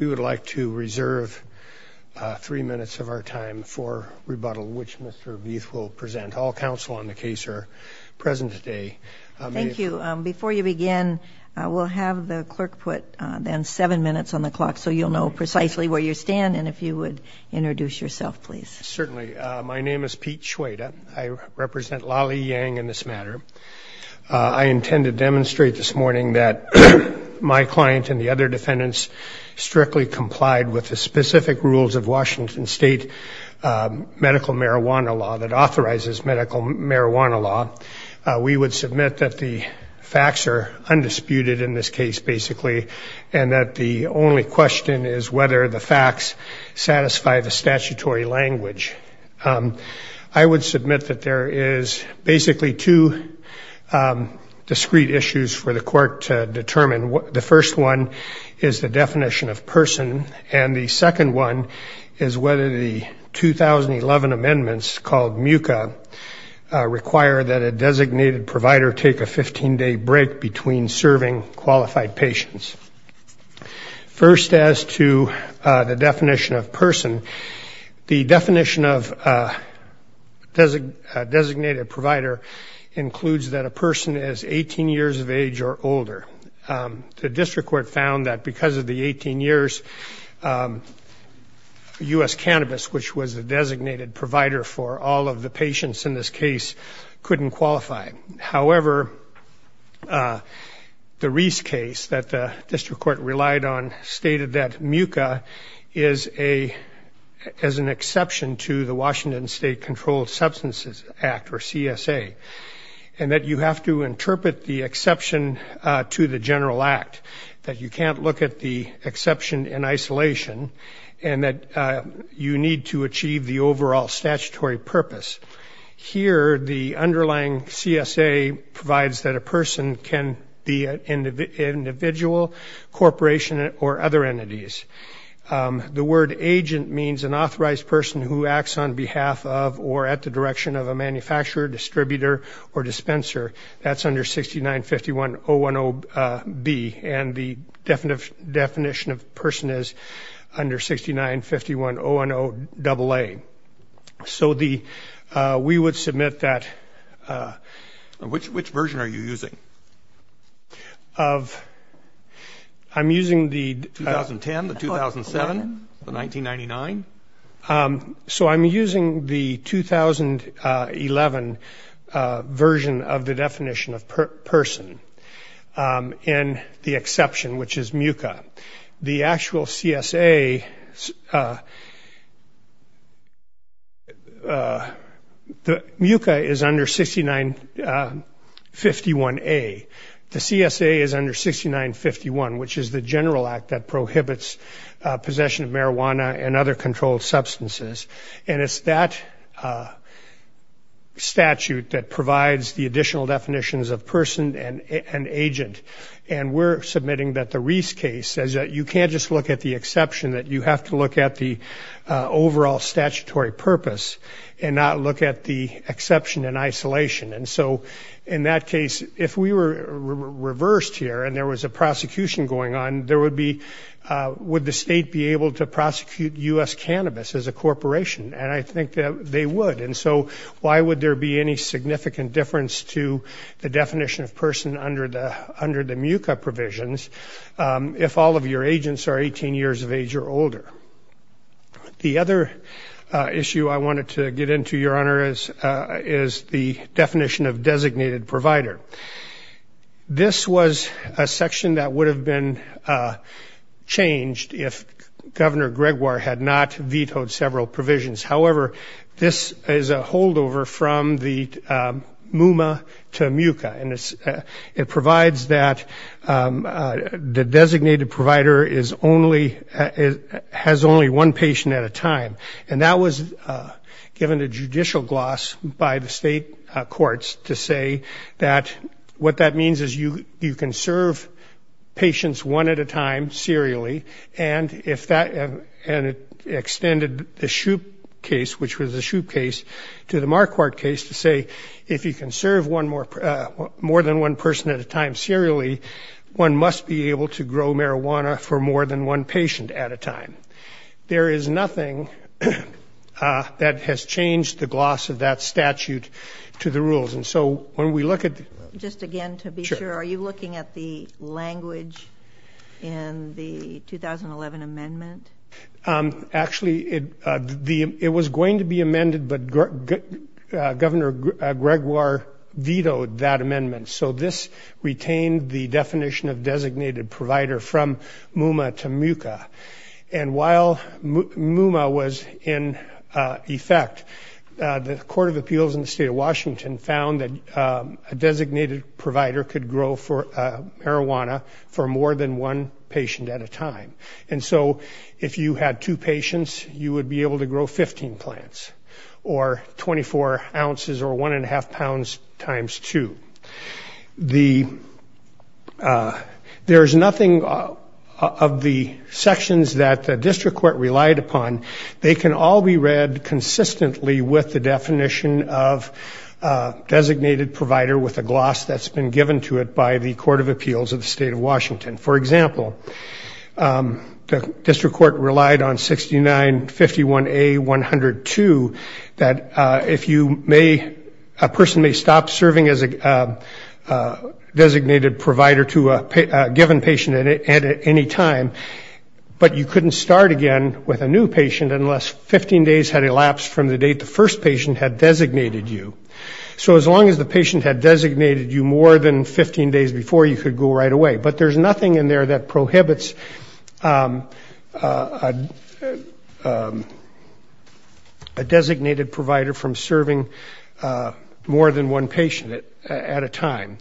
We would like to reserve three minutes of our time for rebuttal, which Mr. Bieth will present. All counsel on the case are present today. Thank you. Before you begin, we'll have the clerk put, then, seven minutes on the clock so you'll know precisely where you stand and if you would introduce yourself, please. Certainly. My name is Pete Schweda. I represent Lally Yang in this matter. I intend to demonstrate this morning that my client and the other defendants strictly complied with the specific rules of Washington State medical marijuana law that authorizes medical marijuana law. We would submit that the facts are undisputed in this case, basically, and that the only question is whether the facts satisfy the statutory language. I would submit that there is basically two discrete issues for the court to determine. The first one is the definition of person, and the second one is whether the 2011 amendments called MUCA require that a designated provider take a 15-day break between serving qualified patients. First, as to the definition of person, the definition of a designated provider includes that a person is 18 years of age or older. The district court found that because of the 18 years, U.S. Cannabis, which was the designated provider for all of the patients in this case, couldn't qualify. However, the Reese case that the district court relied on stated that MUCA is an exception to the Washington State Controlled Substances Act, or CSA, and that you have to interpret the exception to the general act, that you can't look at the exception in isolation, and that you need to achieve the overall statutory purpose. Here, the underlying CSA provides that a person can be an individual, corporation, or other entities. The word agent means an authorized person who acts on behalf of or at the direction of a manufacturer, distributor, or dispenser. That's under 6951.010b, and the definition of person is under 6951.010aa. So we would submit that. Which version are you using? I'm using the 2010, the 2007, the 1999. So I'm using the 2011 version of the definition of person and the exception, which is MUCA. The actual CSA, MUCA is under 6951a. The CSA is under 6951, which is the general act that prohibits possession of marijuana and other controlled substances, and it's that statute that provides the additional definitions of person and agent, and we're submitting that the Reese case says that you can't just look at the exception, that you have to look at the overall statutory purpose and not look at the exception in isolation. And so in that case, if we were reversed here and there was a prosecution going on, would the state be able to prosecute U.S. Cannabis as a corporation? And I think that they would. And so why would there be any significant difference to the definition of person under the MUCA provisions if all of your agents are 18 years of age or older? The other issue I wanted to get into, Your Honor, is the definition of designated provider. This was a section that would have been changed if Governor Gregoire had not vetoed several provisions. However, this is a holdover from the MUMA to MUCA, and it provides that the designated provider is only one patient at a time, and that was given a judicial gloss by the state courts to say that what that means is you can serve patients one at a time serially, and it extended the Shupe case, which was the Shupe case, to the Marquardt case to say if you can serve more than one person at a time serially, one must be able to grow marijuana for more than one patient at a time. There is nothing that has changed the gloss of that statute to the rules. Just again to be sure, are you looking at the language in the 2011 amendment? Actually, it was going to be amended, but Governor Gregoire vetoed that amendment, so this retained the definition of designated provider from MUMA to MUCA. And while MUMA was in effect, the Court of Appeals in the state of Washington found that a designated provider could grow marijuana for more than one patient at a time, and so if you had two patients, you would be able to grow 15 plants or 24 ounces or one and a half pounds times two. There is nothing of the sections that the district court relied upon. They can all be read consistently with the definition of designated provider with a gloss that's been given to it by the Court of Appeals of the state of Washington. For example, the district court relied on 69-51A-102 that if you may, a person may stop serving as a designated provider to a given patient at any time, but you couldn't start again with a new patient unless 15 days had elapsed from the date the first patient had designated you. So as long as the patient had designated you more than 15 days before, you could go right away. But there's nothing in there that prohibits a designated provider from serving more than one patient at a time.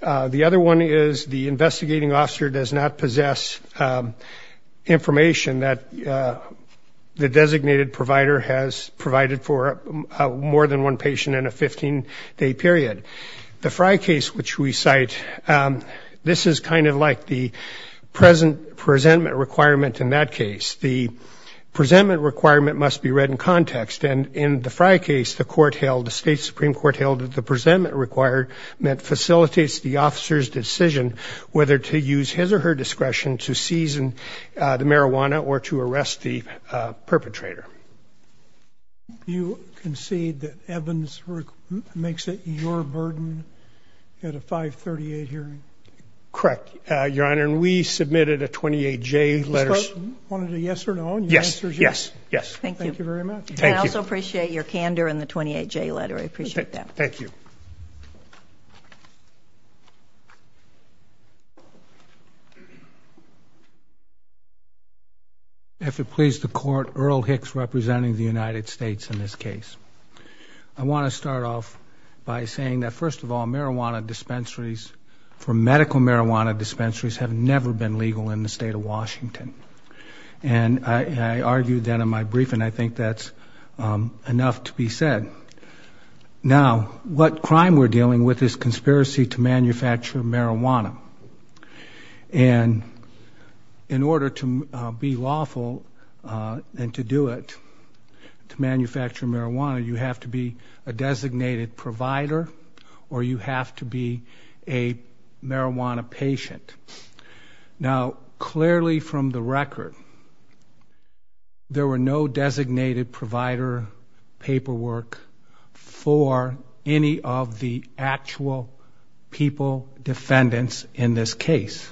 The other one is the investigating officer does not possess information that the designated provider has provided for more than one patient in a 15-day period. The Frye case, which we cite, this is kind of like the presentment requirement in that case. The presentment requirement must be read in context. And in the Frye case, the court held, the state supreme court held that the presentment requirement facilitates the officer's decision whether to use his or her discretion to seize the marijuana or to arrest the perpetrator. You concede that Evans makes it your burden at a 538 hearing? Correct, Your Honor. And we submitted a 28-J letter. Wanted a yes or no on your answers? Yes. Thank you very much. I also appreciate your candor in the 28-J letter. I appreciate that. Thank you. Thank you. If it pleases the court, Earl Hicks representing the United States in this case. I want to start off by saying that, first of all, marijuana dispensaries, for medical marijuana dispensaries, have never been legal in the state of Washington. And I argued that in my briefing. I think that's enough to be said. Now, what crime we're dealing with is conspiracy to manufacture marijuana. And in order to be lawful and to do it, to manufacture marijuana, you have to be a designated provider or you have to be a marijuana patient. Now, clearly from the record, there were no designated provider paperwork for any of the actual people defendants in this case.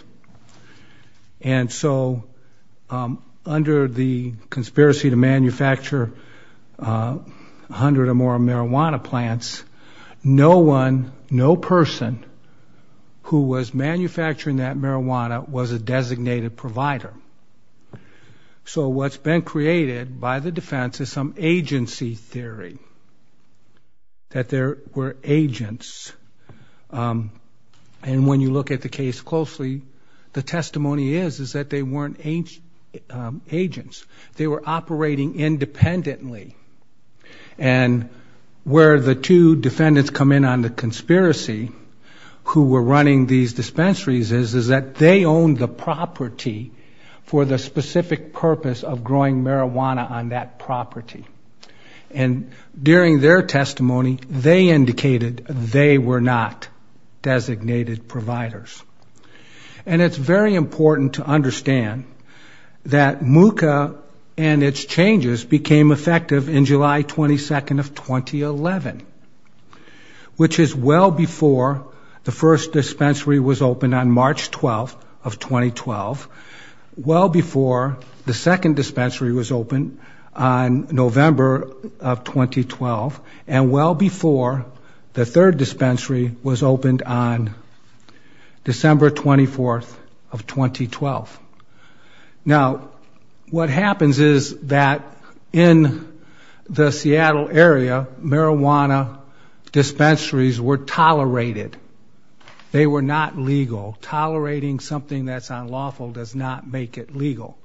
And so under the conspiracy to manufacture 100 or more marijuana plants, no one, no person who was manufacturing that marijuana was a designated provider. So what's been created by the defense is some agency theory that there were agents. And when you look at the case closely, the testimony is that they weren't agents. They were operating independently. And where the two defendants come in on the conspiracy who were running these dispensaries is that they owned the property for the specific purpose of growing marijuana on that property. And during their testimony, they indicated they were not designated providers. And it's very important to understand that MUCA and its changes became effective in July 22nd of 2011, which is well before the first dispensary was opened on March 12th of 2012, well before the second dispensary was opened on November of 2012, and well before the third dispensary was opened on December 24th of 2012. Now, what happens is that in the Seattle area, marijuana dispensaries were tolerated. They were not legal. Tolerating something that's unlawful does not make it legal.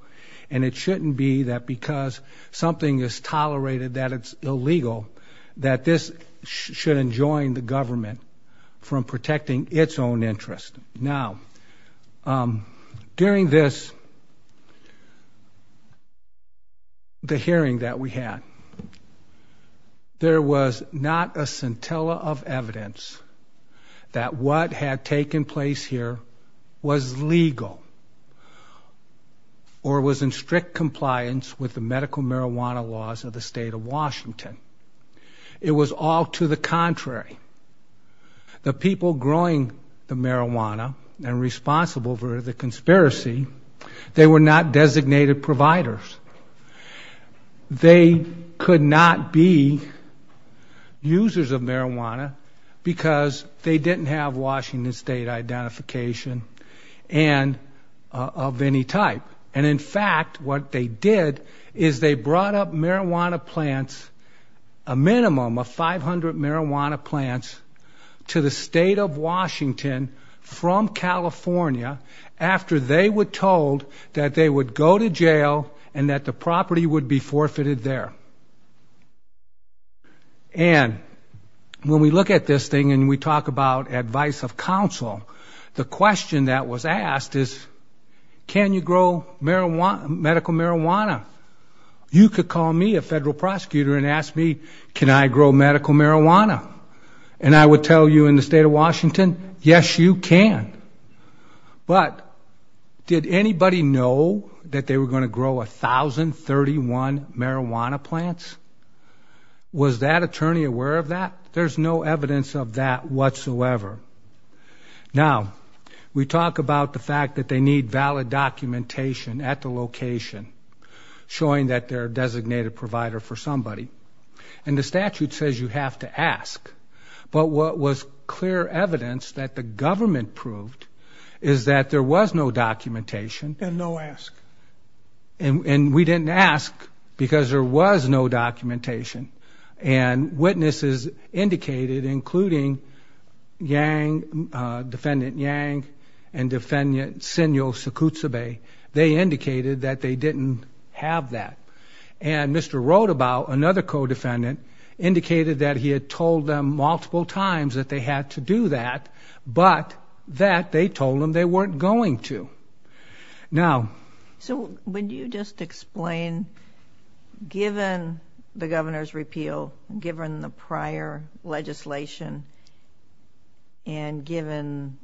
And it shouldn't be that because something is tolerated that it's illegal, that this should enjoin the government from protecting its own interest. Now, during this, the hearing that we had, there was not a scintilla of evidence that what had taken place here was legal or was in strict compliance with the medical marijuana laws of the state of Washington. It was all to the contrary. The people growing the marijuana and responsible for the conspiracy, they were not designated providers. They could not be users of marijuana because they didn't have Washington State identification of any type. And in fact, what they did is they brought up marijuana plants, a minimum of 500 marijuana plants to the state of Washington from California after they were told that they would go to jail and that the property would be forfeited there. And when we look at this thing and we talk about advice of counsel, the question that was asked is, can you grow medical marijuana? You could call me, a federal prosecutor, and ask me, can I grow medical marijuana? And I would tell you in the state of Washington, yes, you can. But did anybody know that they were going to grow 1,031 marijuana plants? Was that attorney aware of that? There's no evidence of that whatsoever. Now, we talk about the fact that they need valid documentation at the location showing that they're a designated provider for somebody. And the statute says you have to ask. But what was clear evidence that the government proved is that there was no documentation. And no ask. And we didn't ask because there was no documentation. And witnesses indicated, including Yang, Defendant Yang and Defendant Senyo Sakutsabe, they indicated that they didn't have that. And Mr. Rodabow, another co-defendant, indicated that he had told them multiple times that they had to do that, but that they told them they weren't going to. Now, so would you just explain, given the governor's repeal, given the prior legislation, and given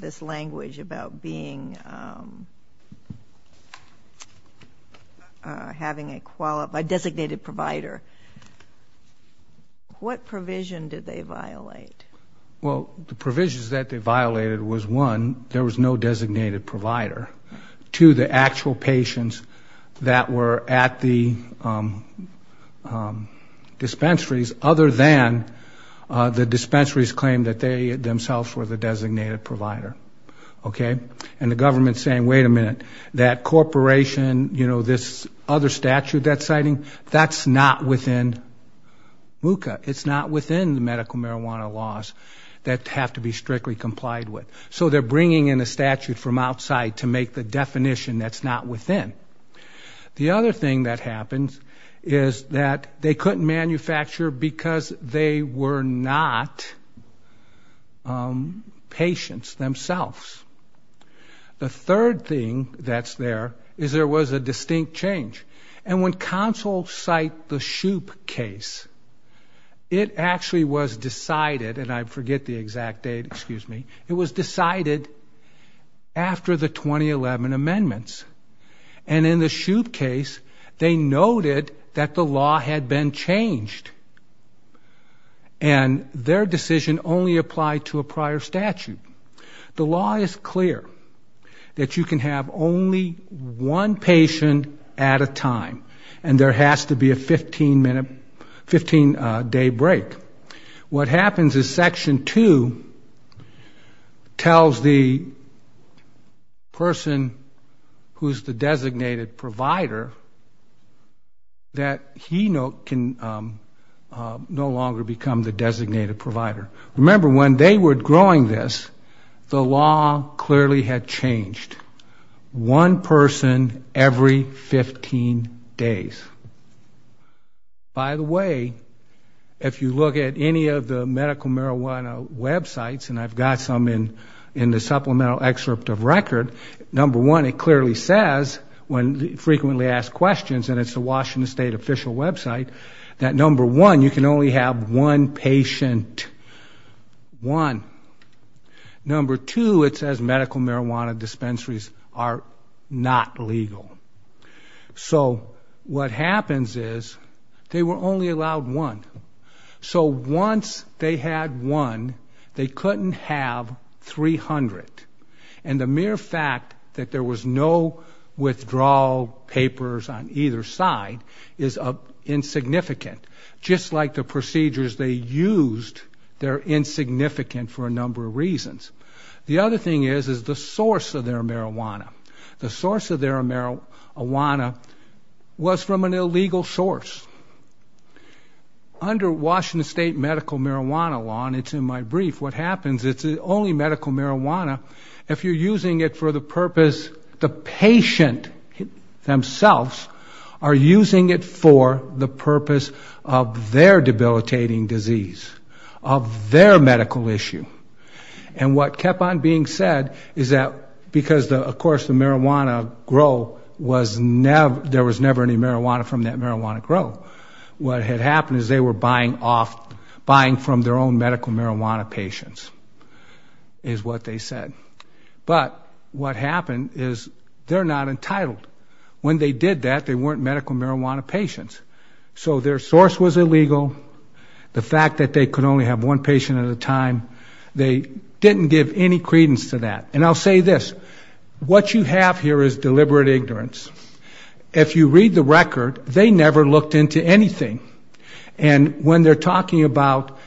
this language about being having a designated provider, what provision did they violate? Well, the provisions that they violated was, one, there was no designated provider. Two, the actual patients that were at the dispensaries, other than the dispensaries claimed that they themselves were the designated provider. Okay? And the government's saying, wait a minute, that corporation, you know, this other statute that's citing, that's not within MUCA. It's not within the medical marijuana laws that have to be strictly complied with. So they're bringing in a statute from outside to make the definition that's not within. The other thing that happens is that they couldn't manufacture because they were not patients themselves. The third thing that's there is there was a distinct change. And when counsel cite the Shoup case, it actually was decided, and I forget the exact date, excuse me, it was decided after the 2011 amendments. And in the Shoup case, they noted that the law had been changed. And their decision only applied to a prior statute. The law is clear, that you can have only one patient at a time, and there has to be a 15-day break. What happens is Section 2 tells the person who's the designated provider, that he can no longer become the designated provider. Remember, when they were growing this, the law clearly had changed. One person every 15 days. By the way, if you look at any of the medical marijuana websites, and I've got some in the supplemental excerpt of record, number one, it clearly says, when frequently asked questions, and it's the Washington State official website, that number one, you can only have one patient, one. Number two, it says medical marijuana dispensaries are not legal. So what happens is they were only allowed one. So once they had one, they couldn't have 300. And the mere fact that there was no withdrawal papers on either side is insignificant. Just like the procedures they used, they're insignificant for a number of reasons. The other thing is, is the source of their marijuana. The source of their marijuana was from an illegal source. Under Washington State medical marijuana law, and it's in my brief, what happens, it's only medical marijuana, if you're using it for the purpose, the patient themselves are using it for the purpose of their debilitating disease, of their medical issue. The source of marijuana grow was never, there was never any marijuana from that marijuana grow. What had happened is they were buying off, buying from their own medical marijuana patients, is what they said. But what happened is they're not entitled. When they did that, they weren't medical marijuana patients. So their source was illegal, the fact that they could only have one patient at a time, they didn't give any credence to that. And I'll say this, what you have here is deliberate ignorance. If you read the record, they never looked into anything. And when they're talking about,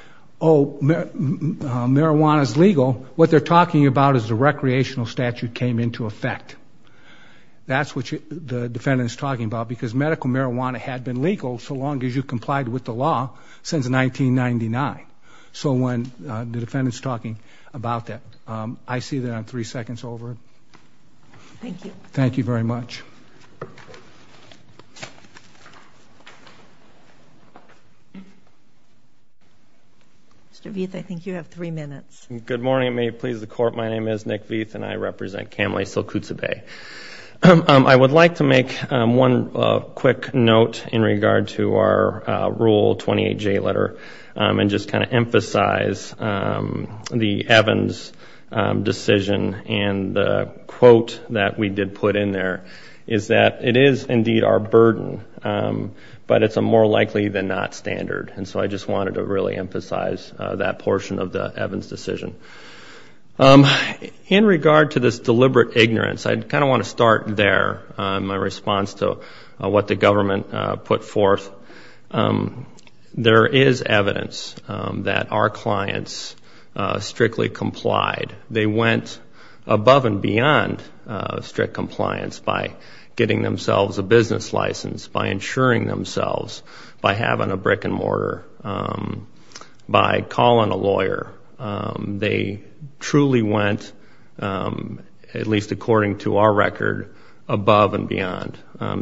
oh, marijuana's legal, what they're talking about is the recreational statute came into effect. That's what the defendant's talking about, because medical marijuana had been legal so long as you complied with the law since 1999. So when the defendant's talking about that, I see that on three seconds over. Thank you very much. Mr. Vieth, I think you have three minutes. Good morning. May it please the Court. My name is Nick Vieth and I represent Kamley-Sylkutsa Bay. I would like to make one quick note in regard to our Rule 28J letter and just kind of emphasize the Evans decision and the quote that we did put in there is that it is indeed our burden, but it's a more likely than not standard. And so I just wanted to really emphasize that portion of the Evans decision. In regard to this deliberate ignorance, I kind of want to start there, my response to what the government put forth. There is evidence that our clients strictly complied. They went above and beyond strict compliance by getting themselves a business license, by insuring themselves, by having a brick and mortar, by calling a lawyer. They truly went, at least according to our record, above and beyond.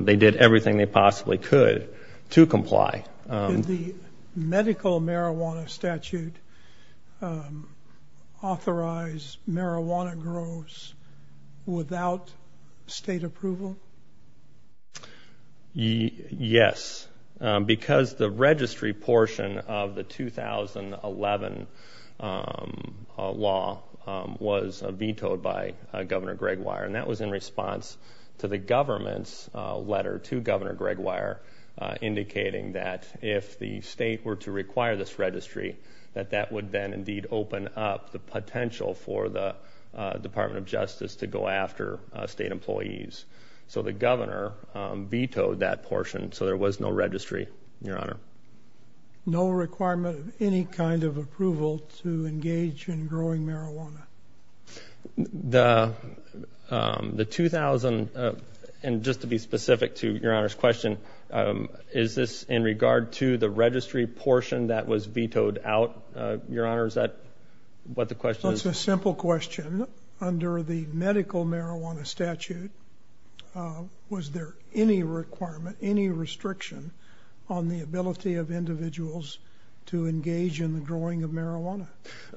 They did everything they possibly could to comply. Did the medical marijuana statute authorize marijuana grows without state approval? Yes, because the registry portion of the 2011 law was vetoed by Governor Greg Weyer and that was in response to the government's letter to Governor Greg Weyer indicating that if the state were to require this registry, that that would then indeed open up the potential for the Department of Justice to go after state employees. So the governor vetoed that portion so there was no registry, Your Honor. No requirement of any kind of approval to engage in growing marijuana. The 2000, and just to be specific to Your Honor's question, is this in regard to the registry portion that was vetoed out, Your Honor? Is that what the question is? It's a simple question. Under the medical marijuana statute, was there any requirement, any restriction on the ability of individuals to engage in the growing of marijuana?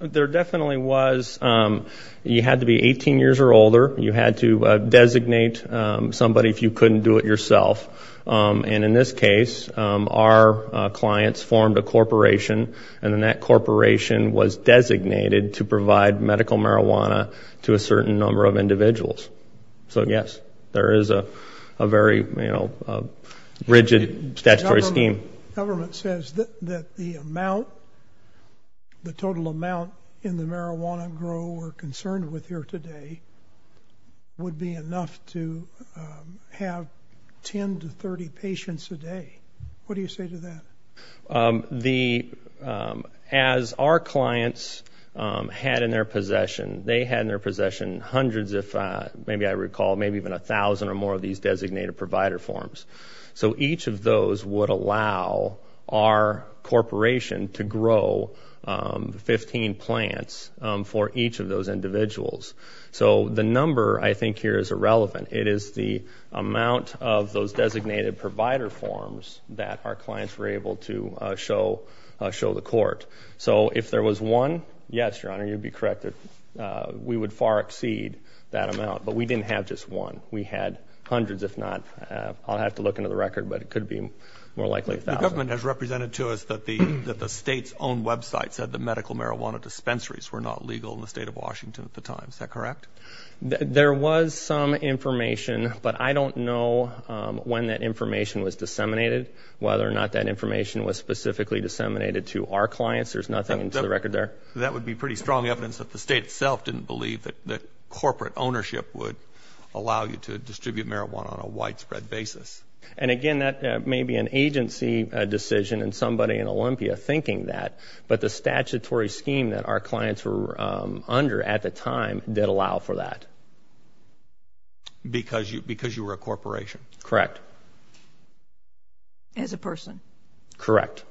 There definitely was. You had to be 18 years or older. You had to designate somebody if you couldn't do it yourself. And in this case, our clients formed a corporation and then that corporation was designated to provide medical marijuana to a certain number of individuals. So yes, there is a very rigid statutory scheme. The government says that the amount, the total amount in the marijuana grow we're concerned with here today would be enough to have 10 to 30 patients a day. What do you say to that? So each of those individuals had in their possession, they had in their possession hundreds, if maybe I recall, maybe even a thousand or more of these designated provider forms. So each of those would allow our corporation to grow 15 plants for each of those individuals. So the number I think here is irrelevant. It is the amount of those designated provider forms that our clients were able to show the court. So if there was one, yes, Your Honor, you'd be correct. We would far exceed that amount, but we didn't have just one. We had hundreds, if not, I'll have to look into the record, but it could be more likely a thousand. The government has represented to us that the state's own website said the medical marijuana dispensaries were not legal in the state of Washington at the time. Is that correct? There was some information, but I don't know when that information was disseminated, whether or not that information was specifically disseminated to our clients. There's nothing in the record there. That would be pretty strong evidence that the state itself didn't believe that corporate ownership would allow you to distribute marijuana on a widespread basis. And again, that may be an agency decision and somebody in Olympia thinking that, but the statutory scheme that our clients were under at the time did allow for that. Because you were a corporation. Correct. As a person. Correct.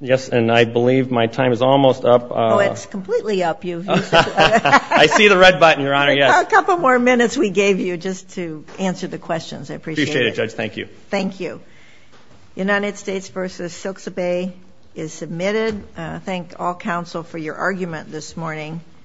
Yes, and I believe my time is almost up. Oh, it's completely up. I see the red button, Your Honor.